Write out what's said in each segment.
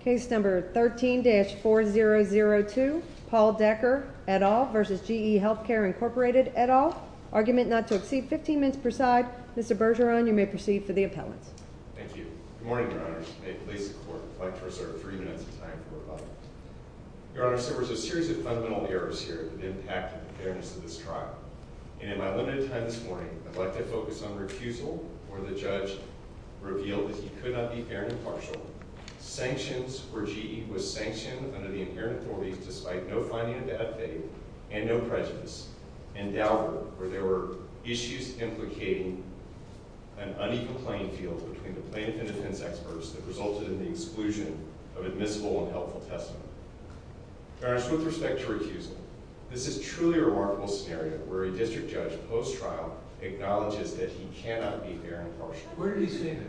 Case number 13-4002, Paul Decker, et al. v. GE Healthcare, Inc., et al. Argument not to exceed 15 minutes per side. Mr. Bergeron, you may proceed for the appellant. Thank you. Good morning, Your Honors. May it please the Court that I'd like to reserve three minutes of time for rebuttal. Your Honors, there was a series of fundamental errors here that impacted the fairness of this trial. And in my limited time this morning, I'd like to focus on refusal, where the judge revealed that he could not be fair and impartial. Sanctions, where GE was sanctioned under the inherent authorities despite no finding of bad faith and no prejudice. And doubt, where there were issues implicating an unequal playing field between the plaintiff and defense experts that resulted in the exclusion of admissible and helpful testimony. Your Honors, with respect to refusal, this is a truly remarkable scenario where a district judge post-trial acknowledges that he cannot be fair and impartial. Where did he say that?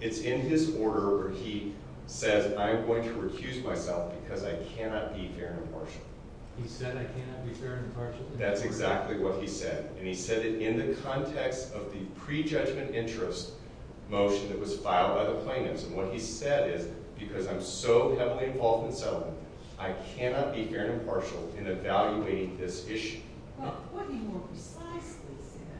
It's in his order where he says, I'm going to recuse myself because I cannot be fair and impartial. He said I cannot be fair and impartial? That's exactly what he said. And he said it in the context of the prejudgment interest motion that was filed by the plaintiffs. And what he said is, because I'm so heavily involved in settlement, I cannot be fair and impartial in evaluating this issue. Well, what he more precisely said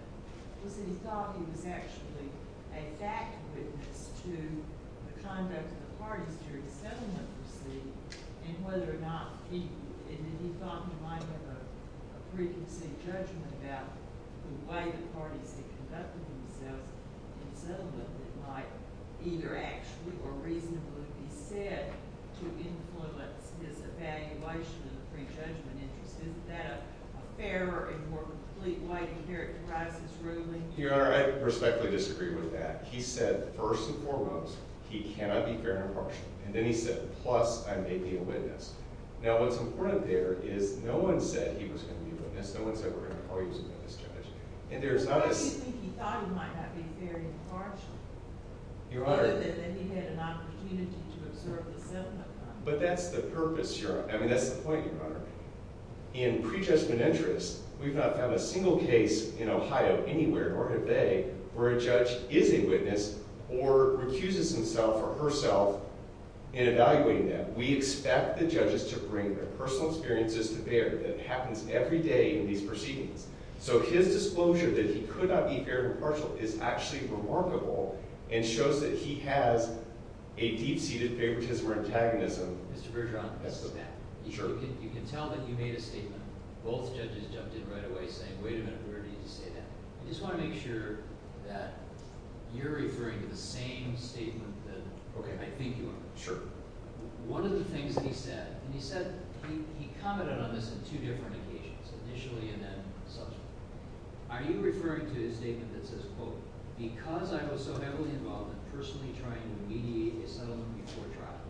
was that he thought he was actually a fact witness to the conduct of the parties during settlement proceedings. And whether or not he thought he might have a preconceived judgment about the way the parties had conducted themselves in settlement that might either actually or reasonably be said to influence his evaluation of the prejudgment interest. Isn't that a fairer and more complete way to characterize his ruling? Your Honor, I respectfully disagree with that. He said, first and foremost, he cannot be fair and impartial. And then he said, plus, I may be a witness. Now, what's important there is no one said he was going to be a witness. No one said we're going to call you as a witness, Judge. And there's not a— But you think he thought he might not be fair and impartial? Your Honor— Other than that he had an opportunity to observe the settlement process. But that's the purpose, Your Honor. I mean, that's the point, Your Honor. In prejudgment interest, we've not found a single case in Ohio anywhere, nor have they, where a judge is a witness or recuses himself or herself in evaluating them. We expect the judges to bring their personal experiences to bear. That happens every day in these proceedings. So his disclosure that he could not be fair and impartial is actually remarkable and shows that he has a deep-seated favoritism or antagonism. Mr. Bergeron, you can tell that you made a statement. Both judges jumped in right away saying, wait a minute, where did you say that? I just want to make sure that you're referring to the same statement that I think you are. Sure. One of the things that he said—and he said—he commented on this on two different occasions, initially and then subsequently. Are you referring to his statement that says, quote, because I was so heavily involved in personally trying to mediate a settlement before trial,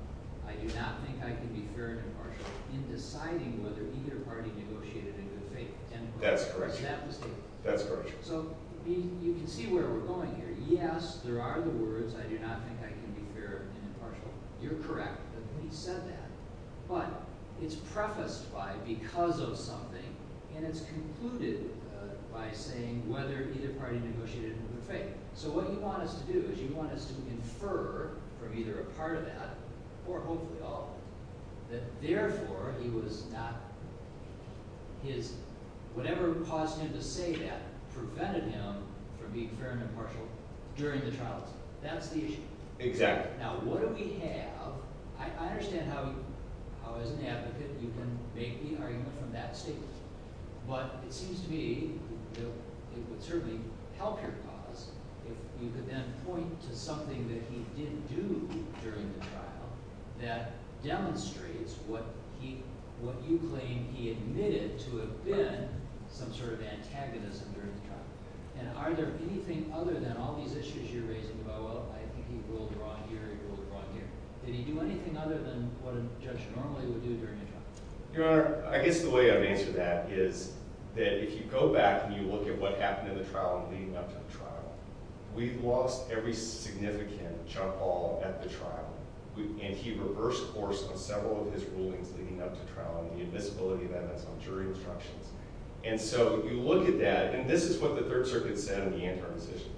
I do not think I can be fair and impartial in deciding whether either party negotiated in good faith? That's correct. Was that the statement? That's correct. So you can see where we're going here. Yes, there are the words, I do not think I can be fair and impartial. You're correct that he said that. But it's prefaced by because of something, and it's concluded by saying whether either party negotiated in good faith. So what you want us to do is you want us to infer from either a part of that, or hopefully all of it, that therefore he was not—his—whatever caused him to say that prevented him from being fair and impartial during the trial. That's the issue. Exactly. Now what do we have—I understand how as an advocate you can make the argument from that statement. But it seems to me that it would certainly help your cause if you could then point to something that he didn't do during the trial that demonstrates what you claim he admitted to have been some sort of antagonism during the trial. And are there anything other than all these issues you're raising about, well, I think he ruled wrong here, he ruled wrong here. Did he do anything other than what a judge normally would do during a trial? Your Honor, I guess the way I would answer that is that if you go back and you look at what happened in the trial and leading up to the trial, we've lost every significant jump ball at the trial. And he reversed course on several of his rulings leading up to trial and the admissibility of evidence on jury instructions. And so if you look at that, and this is what the Third Circuit said in the interim decision,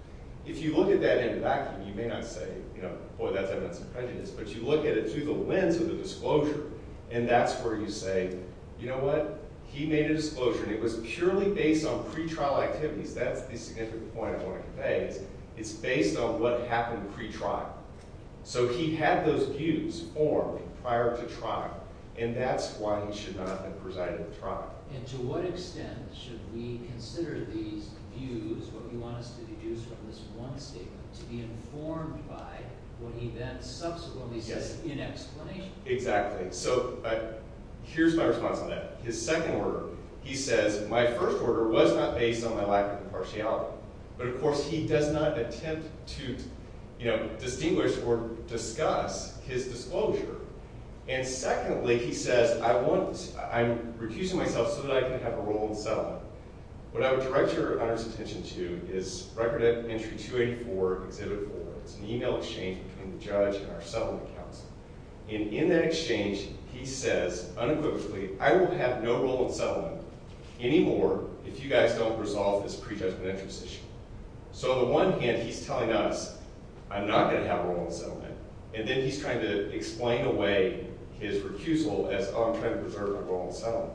if you look at that in vacuum, you may not say, you know, boy, that's evidence of prejudice, but you look at it through the lens of the disclosure, and that's where you say, you know what, he made a disclosure, and it was purely based on pretrial activities. That's the significant point I want to convey is it's based on what happened pretrial. So he had those views formed prior to trial, and that's why he should not have been presided over the trial. And to what extent should we consider these views, what you want us to deduce from this one statement, to be informed by what he then subsequently says in explanation? Exactly. So here's my response on that. His second order, he says, my first order was not based on my lack of impartiality. But, of course, he does not attempt to, you know, distinguish or discuss his disclosure. And secondly, he says, I'm refusing myself so that I can have a role in settlement. What I would direct your honor's attention to is Record Entry 284 Exhibit 4. It's an email exchange between the judge and our settlement counsel. And in that exchange, he says unequivocally, I will have no role in settlement anymore if you guys don't resolve this prejudgment interest issue. So on the one hand, he's telling us, I'm not going to have a role in settlement. And then he's trying to explain away his recusal as, oh, I'm trying to preserve my role in settlement.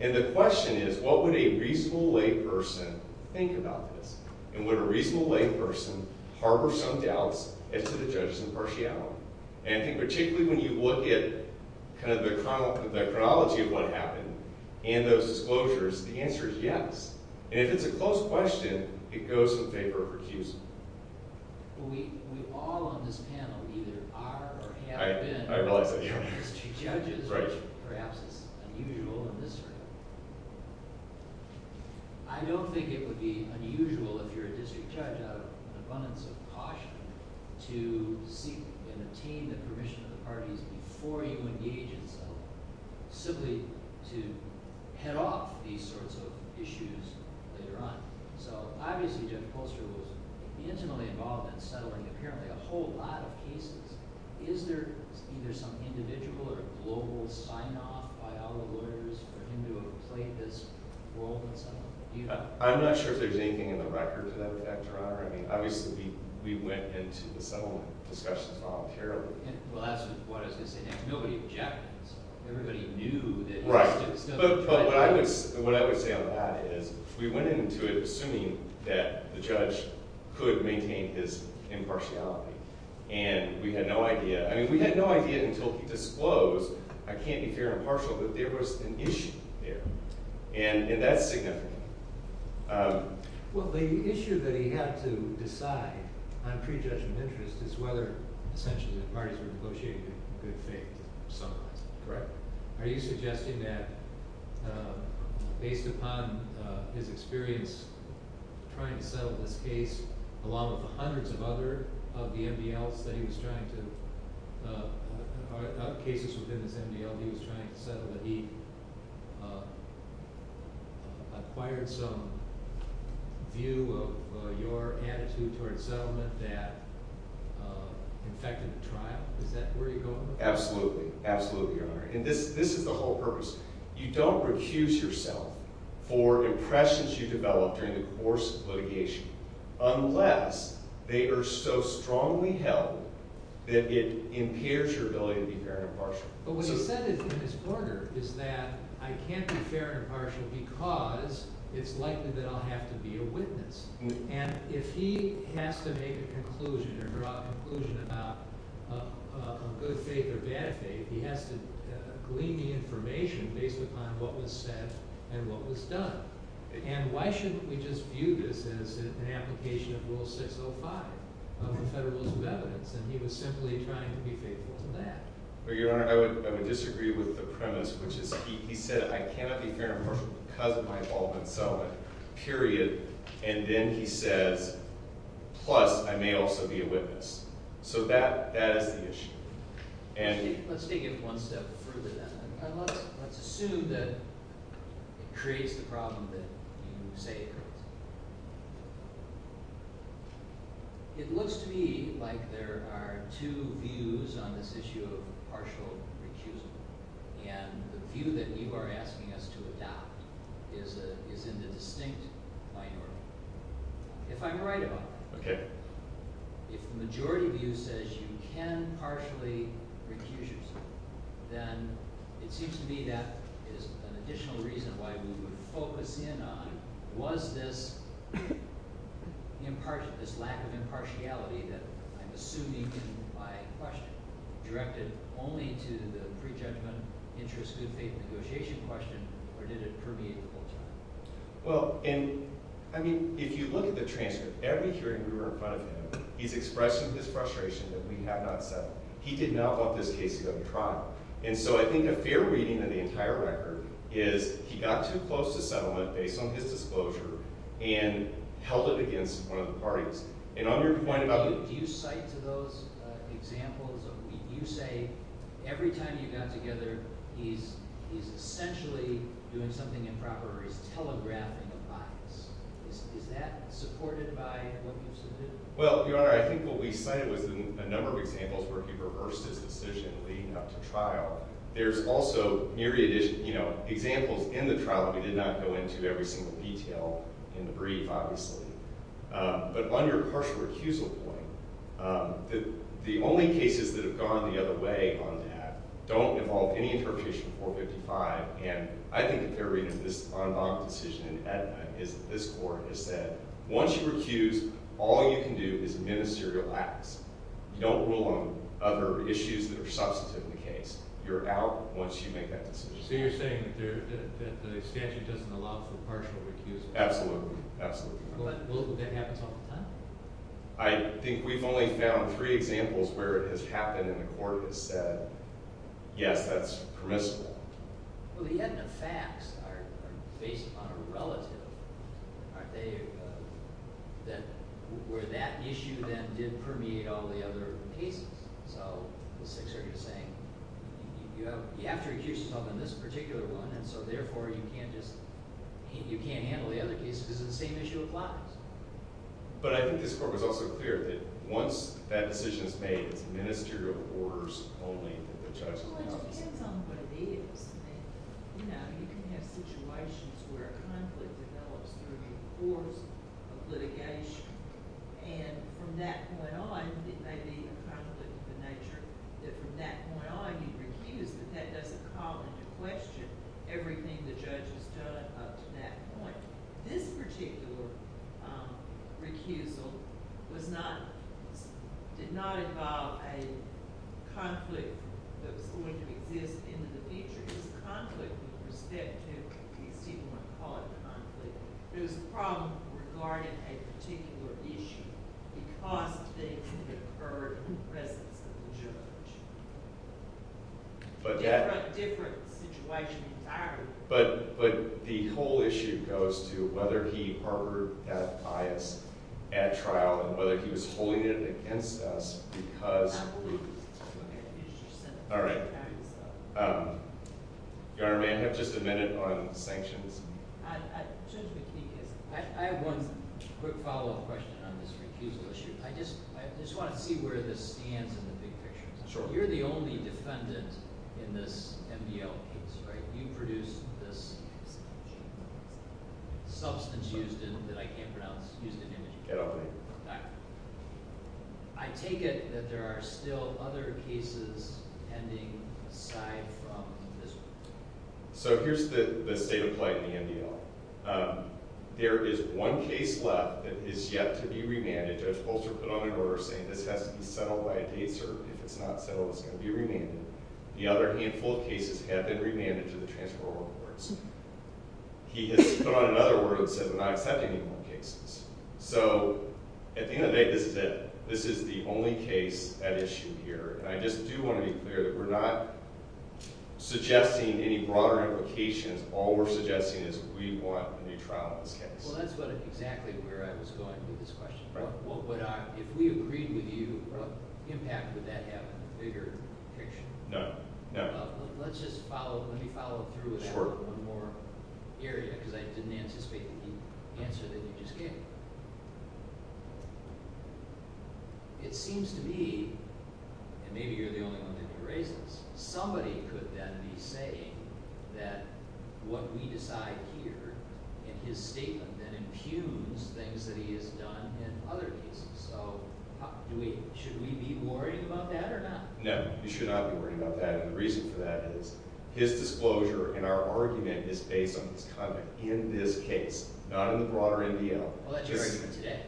And the question is, what would a reasonable layperson think about this? And would a reasonable layperson harbor some doubts as to the judge's impartiality? And I think particularly when you look at kind of the chronology of what happened and those disclosures, the answer is yes. And if it's a close question, it goes in favor of recusal. We all on this panel either are or have been district judges, which perhaps is unusual in this area. I don't think it would be unusual if you're a district judge out of abundance of caution to seek and obtain the permission of the parties before you engage in settlement, simply to head off these sorts of issues later on. So obviously, Judge Poster was intimately involved in settling apparently a whole lot of cases. Is there either some individual or global sign-off by other lawyers for him to have played this role in settlement? I'm not sure if there's anything in the record to that effect, Your Honor. I mean, obviously, we went into the settlement discussions voluntarily. Well, that's what I was going to say. Nobody objected. Everybody knew that it was just— But what I would say on that is we went into it assuming that the judge could maintain his impartiality. And we had no idea. I mean, we had no idea until he disclosed, I can't be fair and impartial, that there was an issue there. And that's significant. Well, the issue that he had to decide on prejudgment of interest is whether, essentially, the parties were negotiating in good faith, in some way. Correct? Are you suggesting that, based upon his experience trying to settle this case, along with the hundreds of other of the MDLs that he was trying to—other cases within this MDL that he was trying to settle, that he acquired some view of your attitude toward settlement that affected the trial? Is that where you're going with this? Absolutely. Absolutely, Your Honor. And this is the whole purpose. You don't recuse yourself for impressions you develop during the course of litigation unless they are so strongly held that it impairs your ability to be fair and impartial. But what he said in his order is that I can't be fair and impartial because it's likely that I'll have to be a witness. And if he has to make a conclusion or draw a conclusion about a good faith or bad faith, he has to glean the information based upon what was said and what was done. And why shouldn't we just view this as an application of Rule 605 of the Federal Rules of Evidence? And he was simply trying to be faithful to that. Well, Your Honor, I would disagree with the premise, which is he said, I cannot be fair and impartial because of my involvement in settlement, period. And then he says, plus, I may also be a witness. So that is the issue. Let's take it one step further then. Let's assume that it creates the problem that you say it creates. It looks to me like there are two views on this issue of partial recusal. And the view that you are asking us to adopt is in the distinct minority. If I'm right about that, if the majority view says you can partially recuse yourself, then it seems to me that is an additional reason why we would focus in on, was this lack of impartiality that I'm assuming by question directed only to the prejudgment, interest, good faith negotiation question, or did it permeate the whole time? Well, and I mean, if you look at the transcript, every hearing we were in front of him, he's expressing this frustration that we have not settled. He did not want this case to go to trial. And so I think a fair reading of the entire record is he got too close to settlement based on his disclosure and held it against one of the parties. Do you cite to those examples? You say every time you got together he's essentially doing something improper or he's telegraphing a bias. Is that supported by what you said? Well, Your Honor, I think what we cited was a number of examples where he reversed his decision leading up to trial. There's also myriad examples in the trial that we did not go into every single detail in the brief, obviously. But on your partial recusal point, the only cases that have gone the other way on that don't involve any interpretation of 455. And I think a fair reading of this en banc decision in Aetna is that this court has said, once you recuse, all you can do is ministerial acts. You don't rule on other issues that are substantive in the case. You're out once you make that decision. So you're saying that the statute doesn't allow for partial recusal? Absolutely. Absolutely. Well, that happens all the time. I think we've only found three examples where it has happened and the court has said, yes, that's permissible. Well, the Aetna facts are based on a relative, aren't they? Where that issue then did permeate all the other cases. So the Sixth Circuit is saying you have to recuse yourself on this particular one, and so therefore you can't handle the other cases because it's the same issue applies. But I think this court was also clear that once that decision is made, it's ministerial orders only that the judge can make decisions. Well, it depends on what it is. You know, you can have situations where a conflict develops through the course of litigation. And from that point on, it may be a conflict of the nature that from that point on, you recuse, but that doesn't call into question everything the judge has done up to that point. This particular recusal did not involve a conflict that was going to exist in the future. It was a conflict with respect to, as people might call it, conflict. It was a problem regarding a particular issue because of the incurred presence of the judge. But that's a different situation entirely. But the whole issue goes to whether he harbored that bias at trial and whether he was holding it against us because he— I believe he was holding it against yourself. All right. Your Honor, may I have just a minute on sanctions? I have one quick follow-up question on this recusal issue. I just want to see where this stands in the big picture. Sure. You're the only defendant in this MBL case, right? You produced this substance used in—that I can't pronounce, used in— Ketamine. Okay. I take it that there are still other cases ending aside from this one. So here's the state of play in the MBL. There is one case left that is yet to be remanded. Judge Bolster put on the order saying this has to be settled by a date cert. If it's not settled, it's going to be remanded. And the other handful of cases have been remanded to the transferable courts. He has put on another order that says we're not accepting any more cases. So at the end of the day, this is it. This is the only case at issue here. And I just do want to be clear that we're not suggesting any broader implications. All we're suggesting is we want a new trial in this case. Well, that's exactly where I was going with this question. If we agreed with you, what impact would that have on the bigger picture? No. No. Let's just follow—let me follow through with that one more area because I didn't anticipate the answer that you just gave. It seems to me—and maybe you're the only one that can raise this— So should we be worried about that or not? No. You should not be worried about that. And the reason for that is his disclosure and our argument is based on his conduct in this case, not in the broader NBL. Well, that's your argument today.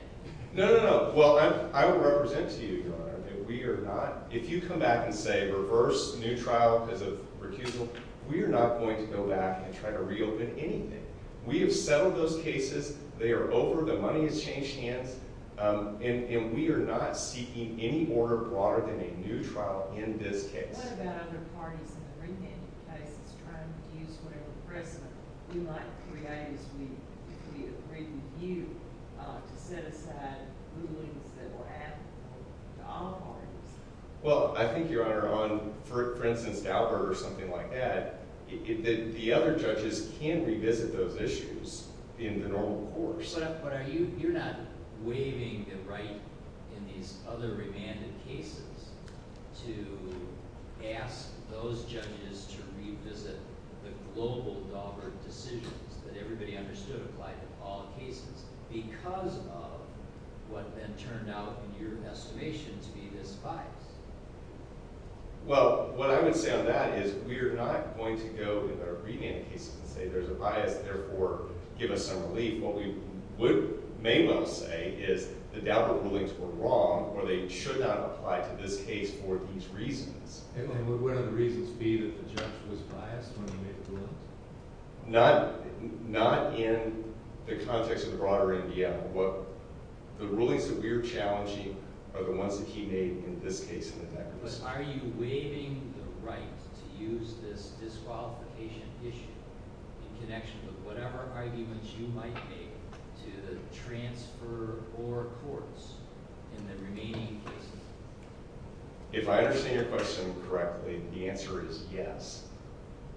No. No. No. Well, I will represent to you, Your Honor, that we are not— if you come back and say reverse, new trial because of recusal, we are not going to go back and try to reopen anything. We have settled those cases. They are over. The money has changed hands. And we are not seeking any order broader than a new trial in this case. What about other parties in the remanded cases trying to use whatever precedent we might create if we agreed with you to set aside rulings that will happen to all parties? Well, I think, Your Honor, on, for instance, Dauber or something like that, the other judges can revisit those issues in the normal course. But you're not waiving the right in these other remanded cases to ask those judges to revisit the global Dauber decisions that everybody understood applied to all cases because of what then turned out, in your estimation, to be this bias. Well, what I would say on that is we are not going to go in our remanded cases and say there's a bias, therefore give us some relief. What we would may well say is the Dauber rulings were wrong or they should not apply to this case for these reasons. And would one of the reasons be that the judge was biased when he made the rulings? Not in the context of the broader NDM, but the rulings that we are challenging are the ones that he made in this case in the neck of the woods. But are you waiving the right to use this disqualification issue in connection with whatever arguments you might make to the transfer or courts in the remaining cases? If I understand your question correctly, the answer is yes.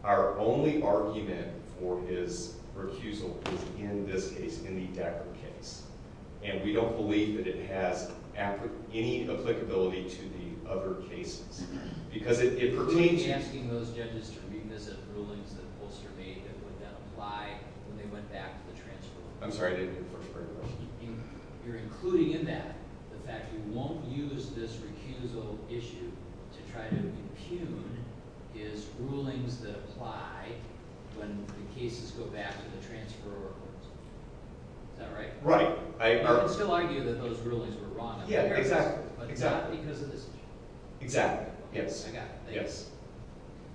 Our only argument for his recusal is in this case, in the Dauber case. And we don't believe that it has any applicability to the other cases. Are you asking those judges to revisit rulings that Ulster made that would then apply when they went back to the transfer? I'm sorry, I didn't hear the first part of your question. You're including in that the fact that you won't use this recusal issue to try to impugn his rulings that apply when the cases go back to the transfer or courts. Is that right? Right. I would still argue that those rulings were wrong. Yeah, exactly. Exactly. Yes. I got it. Yes.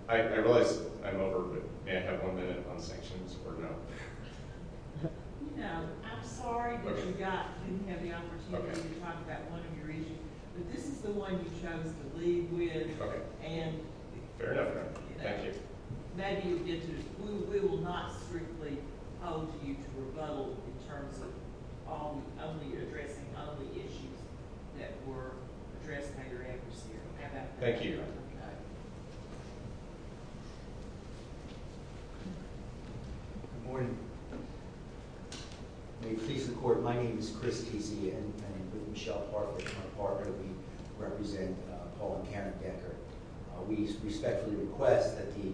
I realize I'm over, but may I have one minute on sanctions or no? You know, I'm sorry that you didn't have the opportunity to talk about one of your issues. But this is the one you chose to leave with. Okay. Fair enough. Thank you. We will not strictly hold you to rebuttal in terms of only addressing only issues that were addressed by your adversary. Thank you. Okay. Good morning. May it please the Court, my name is Chris Casey, and with Michelle Parker, my partner, we represent Paul and Karen Decker. We respectfully request that the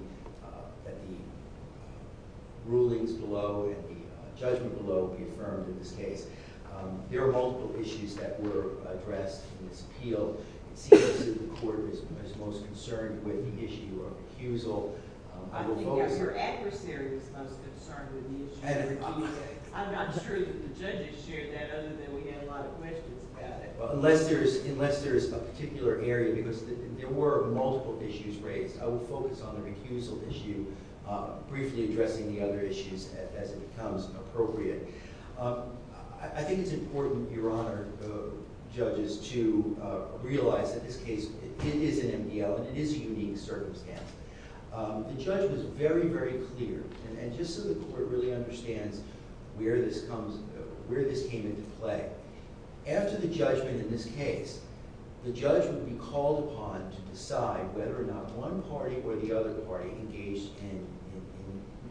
rulings below and the judgment below be affirmed in this case. There are multiple issues that were addressed in this appeal. It seems that the Court is most concerned with the issue of recusal. I think that your adversary is most concerned with the issue. I'm not sure that the judges shared that other than we had a lot of questions about it. Unless there is a particular area, because there were multiple issues raised. I will focus on the recusal issue, briefly addressing the other issues as it becomes appropriate. I think it's important, Your Honor, judges, to realize that this case is an MDL and it is a unique circumstance. The judgment is very, very clear. And just so the Court really understands where this came into play. After the judgment in this case, the judge would be called upon to decide whether or not one party or the other party engaged in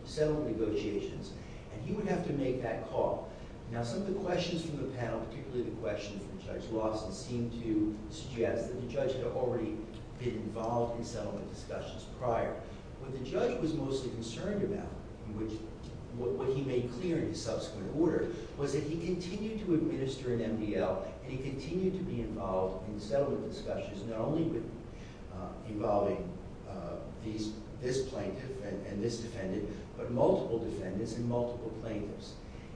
settlement negotiations. And he would have to make that call. Now, some of the questions from the panel, particularly the questions from Judge Lawson, seem to suggest that the judge had already been involved in settlement discussions prior. What the judge was most concerned about, what he made clear in his subsequent order, was that he continued to administer an MDL and he continued to be involved in settlement discussions, not only involving this plaintiff and this defendant, but multiple defendants and multiple plaintiffs.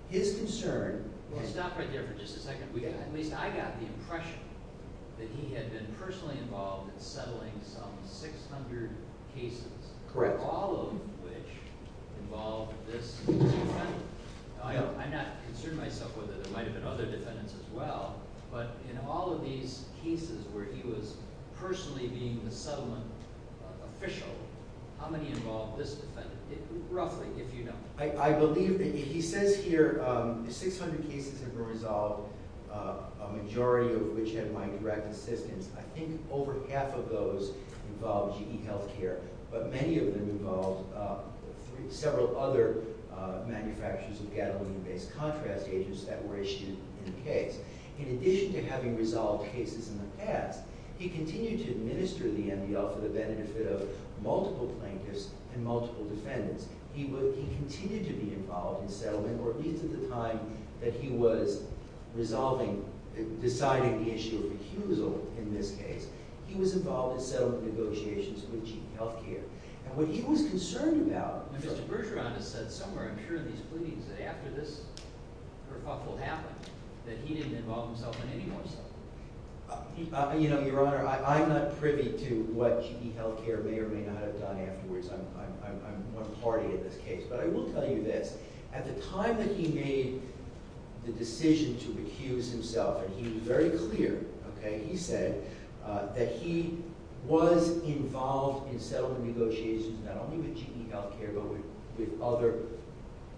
His concern... We'll stop right there for just a second. At least I got the impression that he had been personally involved in settling some 600 cases. Correct. All of which involved this defendant. I'm not concerned myself whether there might have been other defendants as well, but in all of these cases where he was personally being the settlement official, how many involved this defendant? Roughly, if you know. I believe that he says here 600 cases have been resolved, a majority of which had my direct assistance. I think over half of those involved GE Healthcare, but many of them involved several other manufacturers of gadolin-based contrast agents that were issued in the case. In addition to having resolved cases in the past, he continued to administer the MDL for the benefit of multiple plaintiffs and multiple defendants. He continued to be involved in settlement, or at least at the time that he was resolving, deciding the issue of recusal in this case, he was involved in settlement negotiations with GE Healthcare. And what he was concerned about... Mr. Bergeron has said somewhere, I'm sure, in these pleadings, that after this hurtful happened, that he didn't involve himself in any more settlement. You know, Your Honor, I'm not privy to what GE Healthcare may or may not have done afterwards. I'm one party in this case. But I will tell you this. At the time that he made the decision to recuse himself, and he was very clear, okay, he said, that he was involved in settlement negotiations, not only with GE Healthcare, but with other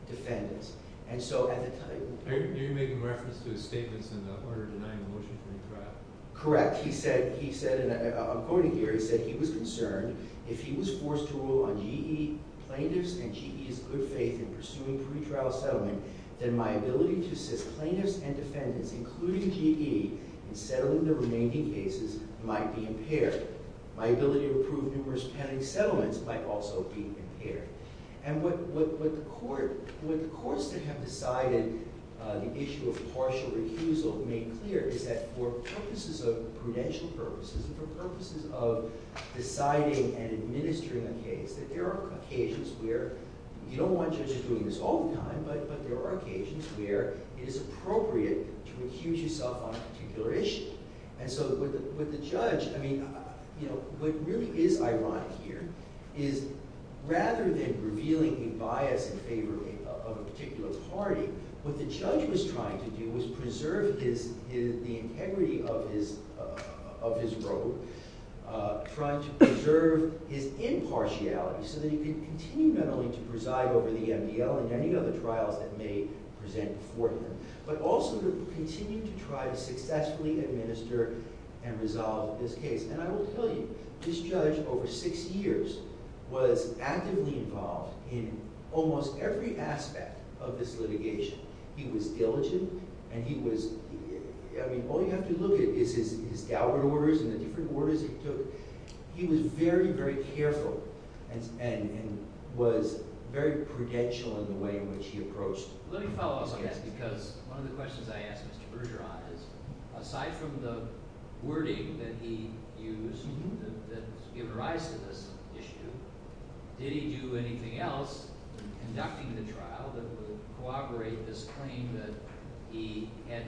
defendants. And so at the time... Are you making reference to his statements in the order denying the motion to recraft? Correct. He said, and I'm quoting here, he said he was concerned if he was forced to rule on GE plaintiffs and GE's good faith in pursuing pretrial settlement, then my ability to assist plaintiffs and defendants, including GE, in settling the remaining cases might be impaired. My ability to approve numerous penalty settlements might also be impaired. And what the courts that have decided the issue of partial recusal made clear is that for purposes of prudential purposes and for purposes of deciding and administering a case, that there are occasions where you don't want judges doing this all the time, but there are occasions where it is appropriate to recuse yourself on a particular issue. And so with the judge, I mean, you know, what really is ironic here is rather than revealing a bias in favor of a particular party, what the judge was trying to do was preserve the integrity of his road, trying to preserve his impartiality so that he could continue not only to preside over the MDL and any other trials that may present before him, but also to continue to try to successfully administer and resolve this case. And I will tell you, this judge over six years was actively involved in almost every aspect of this litigation. He was diligent, and he was – I mean, all you have to look at is his dowry orders and the different orders he took. He was very, very careful and was very prudential in the way in which he approached the case. Let me follow up on this because one of the questions I asked Mr. Bergeron is aside from the wording that he used that's given rise to this issue, did he do anything else in conducting the trial that would corroborate this claim that he had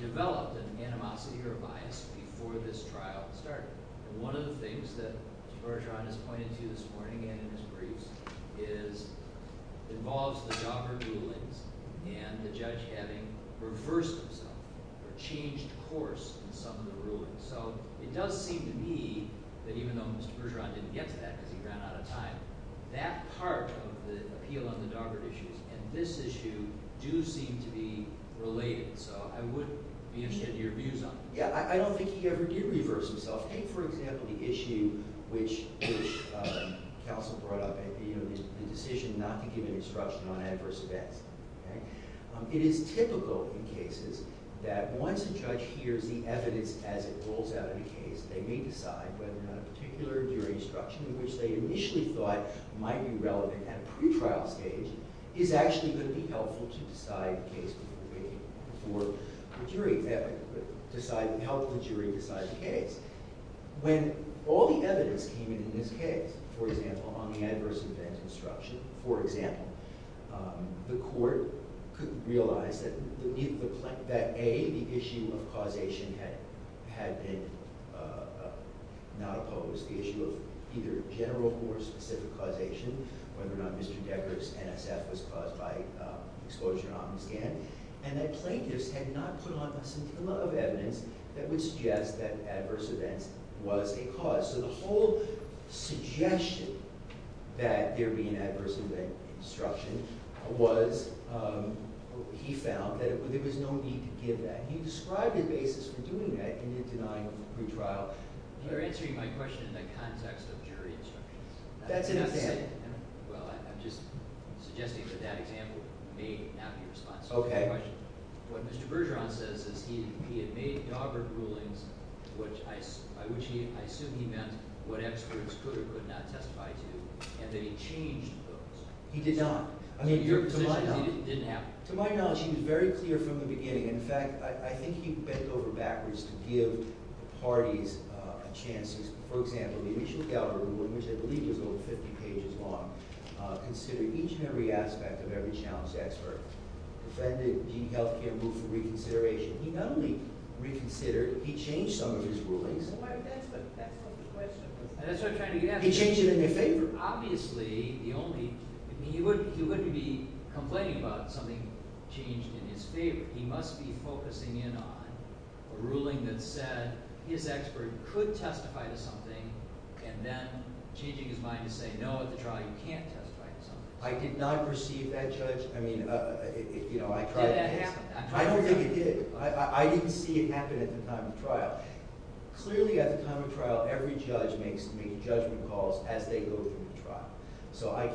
developed an animosity or a bias before this trial started? And one of the things that Mr. Bergeron has pointed to this morning and in his briefs involves the Daubert rulings and the judge having reversed himself or changed course in some of the rulings. So it does seem to me that even though Mr. Bergeron didn't get to that because he ran out of time, that part of the appeal on the Daubert issues and this issue do seem to be related. So I would be interested in your views on that. Yeah, I don't think he ever did reverse himself. Take, for example, the issue which counsel brought up, the decision not to give an instruction on adverse events. It is typical in cases that once a judge hears the evidence as it rolls out in a case, they may decide whether or not a particular jury instruction in which they initially thought might be relevant at a pretrial stage is actually going to be helpful to help the jury decide the case. When all the evidence came in in this case, for example, on the adverse event instruction, for example, the court could realize that A, the issue of causation had been not opposed, the issue of either general or specific causation, whether or not Mr. Daubert's NSF was caused by exposure on the stand, and that plaintiffs had not put on a scintilla of evidence that would suggest that adverse events was a cause. So the whole suggestion that there be an adverse event instruction was, he found, that there was no need to give that. He described a basis for doing that in the denying of a pretrial. You're answering my question in the context of jury instructions. That's an example. Well, I'm just suggesting that that example may not be responsible. Okay. What Mr. Bergeron says is he had made Daubert rulings, which I assume he meant what experts could or could not testify to, and then he changed those. He did not. To my knowledge, he was very clear from the beginning. In fact, I think he bent over backwards to give the parties a chance. For example, the initial Daubert ruling, which I believe was over 50 pages long, considered each and every aspect of every challenge to expert, defended the health care move for reconsideration. He not only reconsidered, he changed some of his rulings. That's what the question was. That's what I'm trying to get at. He changed it in his favor. Obviously, the only – he wouldn't be complaining about something changed in his favor. He must be focusing in on a ruling that said his expert could testify to something and then changing his mind to say, no, at the trial, you can't testify to something. I did not perceive that, Judge. I mean, you know, I tried. Did that happen? I don't think it did. I didn't see it happen at the time of trial. Clearly, at the time of trial, every judge makes judgment calls as they go through the trial. But I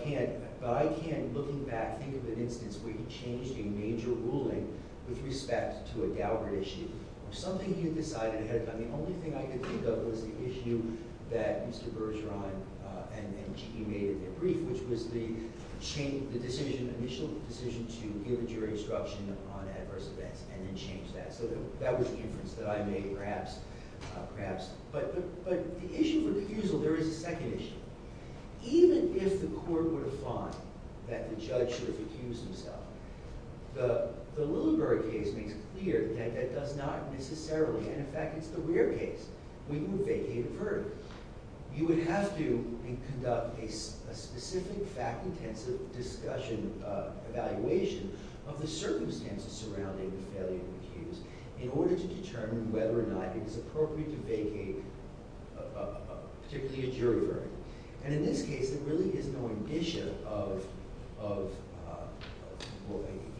can't, looking back, think of an instance where he changed a major ruling with respect to a Daubert issue or something he had decided ahead of time. The only thing I could think of was the issue that Mr. Bergeron and Cheeky made in their brief, which was the initial decision to give a jury instruction on adverse events and then change that. So that was the inference that I made, perhaps. But the issue of refusal, there is a second issue. Even if the court were to find that the judge should have accused himself, the Lillenberg case makes clear that that does not necessarily, and in fact, it's the rare case, where you would vacate a verdict. You would have to conduct a specific fact-intensive discussion, evaluation, of the circumstances surrounding the failure of the accuse in order to determine whether or not it is appropriate to vacate, particularly a jury verdict. And in this case, there really is no indicia of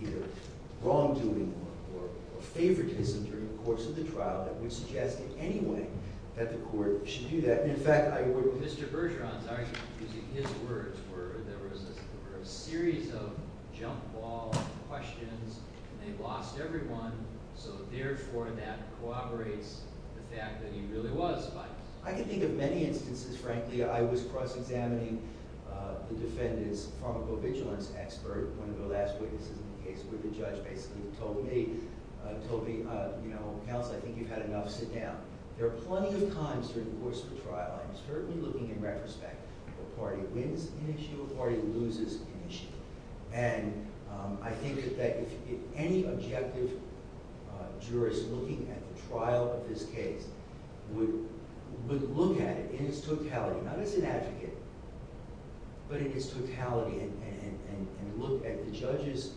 either wrongdoing or favoritism during the course of the trial that would suggest in any way that the court should do that. And in fact, I would— Mr. Bergeron's argument, using his words, were there was a series of jump ball questions, and they lost everyone. So therefore, that corroborates the fact that he really was fined. I can think of many instances, frankly. I was cross-examining the defendant's pharmacovigilance expert, one of the last witnesses in the case where the judge basically told me, told me, you know, Counsel, I think you've had enough. Sit down. There are plenty of times during the course of a trial, I'm certainly looking in retrospect, where a party wins an issue, a party loses an issue. And I think that if any objective jurist looking at the trial of this case would look at it in its totality, not as an advocate, but in its totality, and look at the judge's,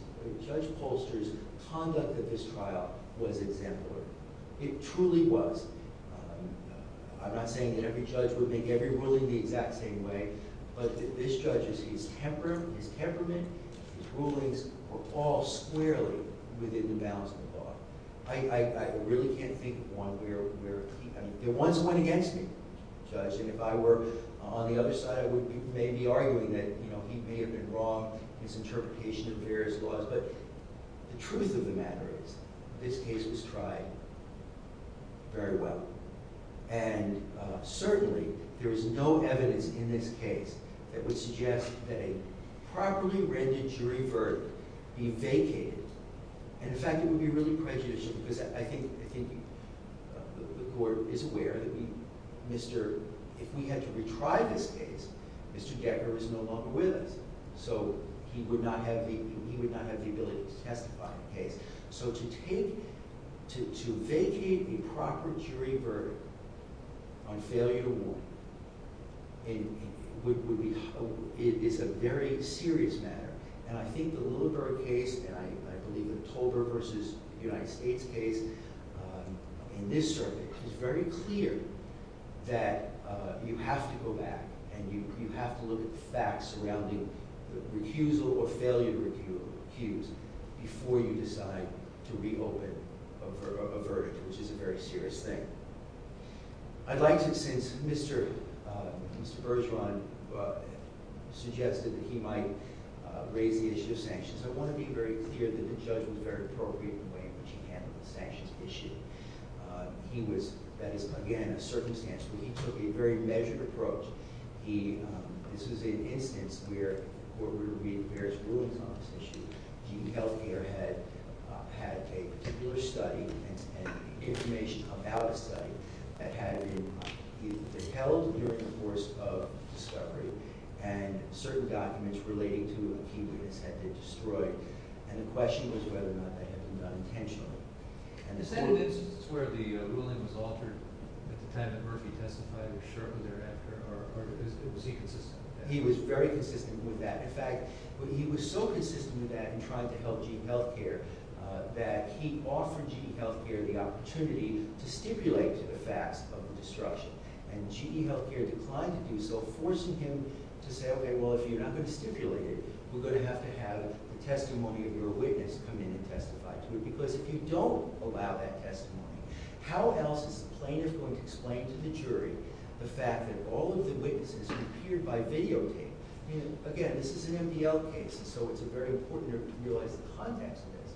Judge Polster's conduct at this trial was exemplary. It truly was. I'm not saying that every judge would make every ruling the exact same way, but this judge's temper, his temperament, his rulings were all squarely within the bounds of the law. I really can't think of one where he, I mean, there once went against me, Judge, and if I were on the other side, I would maybe be arguing that, you know, he may have been wrong in his interpretation of various laws. But the truth of the matter is this case was tried very well. And certainly there is no evidence in this case that would suggest that a properly rendered jury verdict be vacated. And in fact, it would be really prejudicial because I think the court is aware that if we had to retry this case, Mr. Gecker is no longer with us, so he would not have the ability to testify in the case. So to take, to vacate a proper jury verdict on failure to warn is a very serious matter. And I think the Littleburg case, and I believe the Tolbert v. United States case in this circuit, is very clear that you have to go back and you have to look at the facts surrounding the refusal or failure to recuse before you decide to reopen a verdict, which is a very serious thing. I'd like to, since Mr. Bergeron suggested that he might raise the issue of sanctions, I want to be very clear that the judge was very appropriate in the way in which he handled the sanctions issue. He was, that is, again, a circumstantial. He took a very measured approach. This was an instance where we were reading various rulings on this issue. Keaton Health Care had a particular study and information about a study that had been held during the course of discovery and certain documents relating to Keaton's had been destroyed. And the question was whether or not that had been done intentionally. Is that an instance where the ruling was altered at the time that Murphy testified, or shortly thereafter? Or was he consistent with that? In fact, he was so consistent with that in trying to help Keaton Health Care that he offered Keaton Health Care the opportunity to stipulate the facts of the destruction. And Keaton Health Care declined to do so, forcing him to say, OK, well, if you're not going to stipulate it, we're going to have to have the testimony of your witness come in and testify to it. Because if you don't allow that testimony, how else is the plaintiff going to explain to the jury the fact that all of the witnesses appeared by videotape? Again, this is an MDL case, so it's very important to realize the context of this.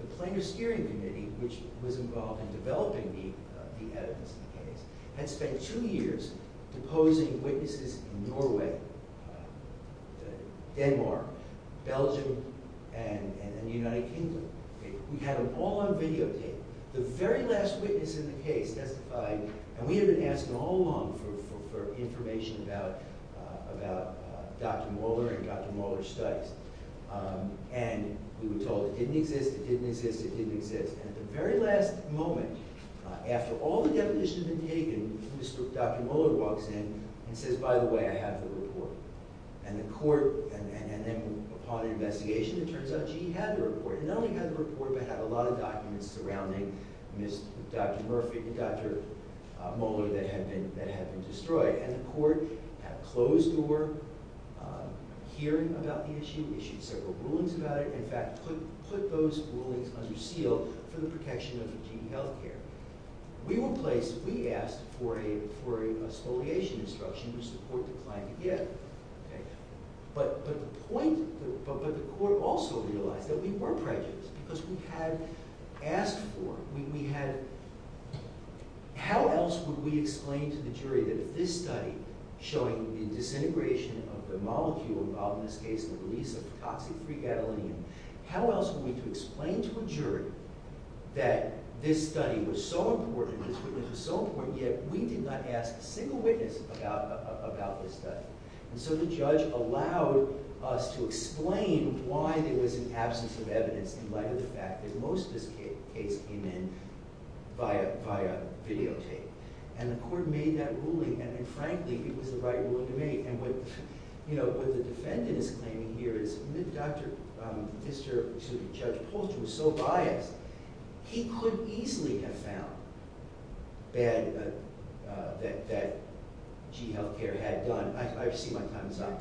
The Plaintiff's Steering Committee, which was involved in developing the evidence in the case, had spent two years deposing witnesses in Norway, Denmark, Belgium, and the United Kingdom. We had them all on videotape. The very last witness in the case testified. And we had been asking all along for information about Dr. Moeller and Dr. Moeller's studies. And we were told it didn't exist, it didn't exist, it didn't exist. And at the very last moment, after all the deposition had been taken, Dr. Moeller walks in and says, by the way, I have the report. And the court, and then upon investigation, it turns out she had the report. And not only had the report, but had a lot of documents surrounding Dr. Moeller that had been destroyed. And the court had closed door hearing about the issue, issued several rulings about it. In fact, put those rulings under seal for the protection of Virginia health care. We were placed, we asked for a spoliation instruction, which the court declined to give. But the point, but the court also realized that we were prejudiced. Because we had asked for, we had, how else would we explain to the jury that if this study, showing the disintegration of the molecule involved in this case, the release of the toxic 3-gadolinium, how else would we explain to a jury that this study was so important, this witness was so important, yet we did not ask a single witness about this study. And so the judge allowed us to explain why there was an absence of evidence in light of the fact that most of this case came in via videotape. And the court made that ruling, and frankly, it was the right ruling to make. And what the defendant is claiming here is, Mr. Judge Polch was so biased. He could easily have found bad, that G Health Care had done. I see my time is up.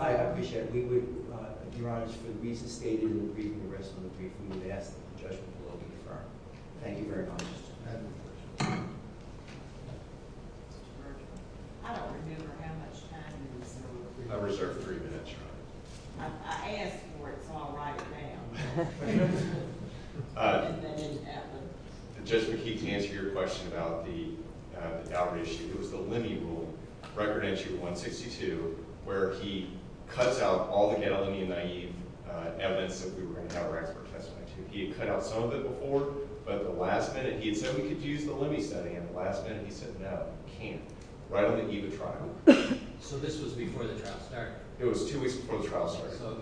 I appreciate it. We would, Your Honor, for the reasons stated in the briefing, the rest of the briefing, we would ask that the judgment will be affirmed. Thank you very much. I reserve three minutes, Your Honor. I asked for it, so I'll write it down. Judge McKee, to answer your question about the Daubert issue, it was the Lemme rule, Record Entry 162, where he cuts out all the gadolinium-naive evidence that we were going to have our expert testify to. He had cut out some of it before, but the last minute, he had said we could use the Lemme study, and the last minute he said, no, we can't, right on the EVA trial. So this was before the trial started? It was two weeks before the trial started. So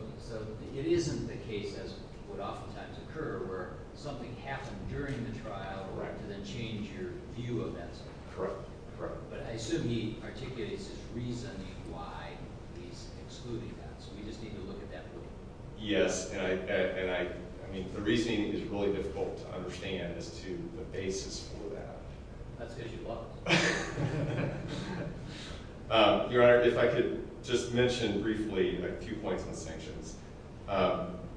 it isn't the case, as would oftentimes occur, where something happened during the trial to then change your view of that stuff. Correct. But I assume he articulated his reasoning why he's excluding that, so we just need to look at that briefly. Yes, and I mean, the reasoning is really difficult to understand as to the basis for that. That's because you love it. Your Honor, if I could just mention briefly a few points on sanctions.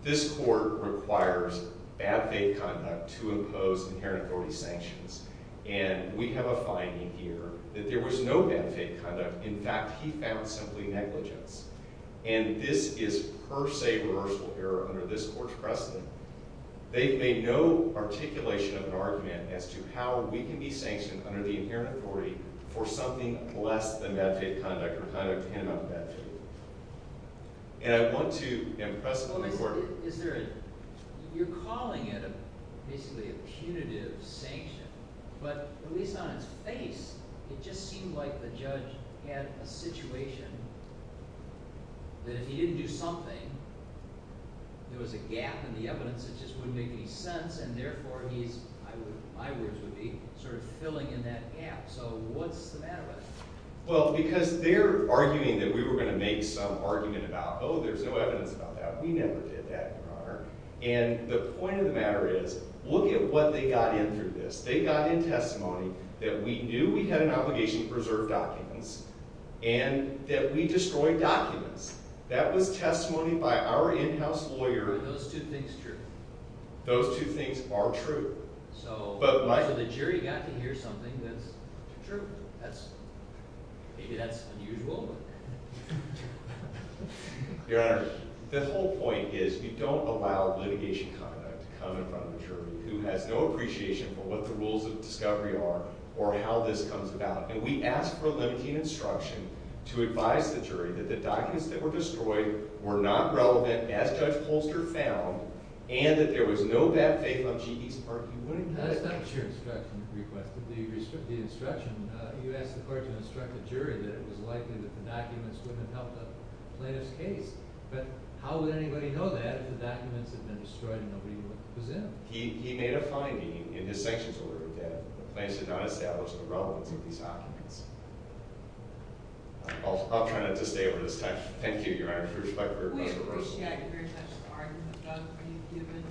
This court requires bad faith conduct to impose inherent authority sanctions, and we have a finding here that there was no bad faith conduct. In fact, he found simply negligence, and this is per se reversal error under this court's precedent. They've made no articulation of an argument as to how we can be sanctioned under the inherent authority for something less than bad faith conduct or conduct in and of itself. And I want to impress upon the court. You're calling it basically a punitive sanction, but at least on its face it just seemed like the judge had a situation that if he didn't do something, there was a gap in the evidence that just wouldn't make any sense, and therefore my words would be sort of filling in that gap. So what's the matter with it? Well, because they're arguing that we were going to make some argument about, oh, there's no evidence about that. We never did that, Your Honor. And the point of the matter is look at what they got in through this. They got in testimony that we knew we had an obligation to preserve documents and that we destroyed documents. That was testimony by our in-house lawyer. Are those two things true? Those two things are true. So the jury got to hear something that's true. Maybe that's unusual. Your Honor, the whole point is we don't allow litigation conduct to come in front of the jury who has no appreciation for what the rules of discovery are or how this comes about. And we ask for limiting instruction to advise the jury that the documents that were destroyed were not relevant, as Judge Holster found, and that there was no bad faith on G.E.'s part. That's not your instruction request. The instruction, you asked the court to instruct the jury that it was likely that the documents wouldn't have helped the plaintiff's case. But how would anybody know that if the documents had been destroyed and nobody would presume? He made a finding in his sanctions order that the plaintiffs had not established the relevance of these documents. I'll try not to stay over this time. Thank you, Your Honor, for your respectful request. We appreciate it very much, Your Honor. We've done a pretty good job and we'll consider the case here.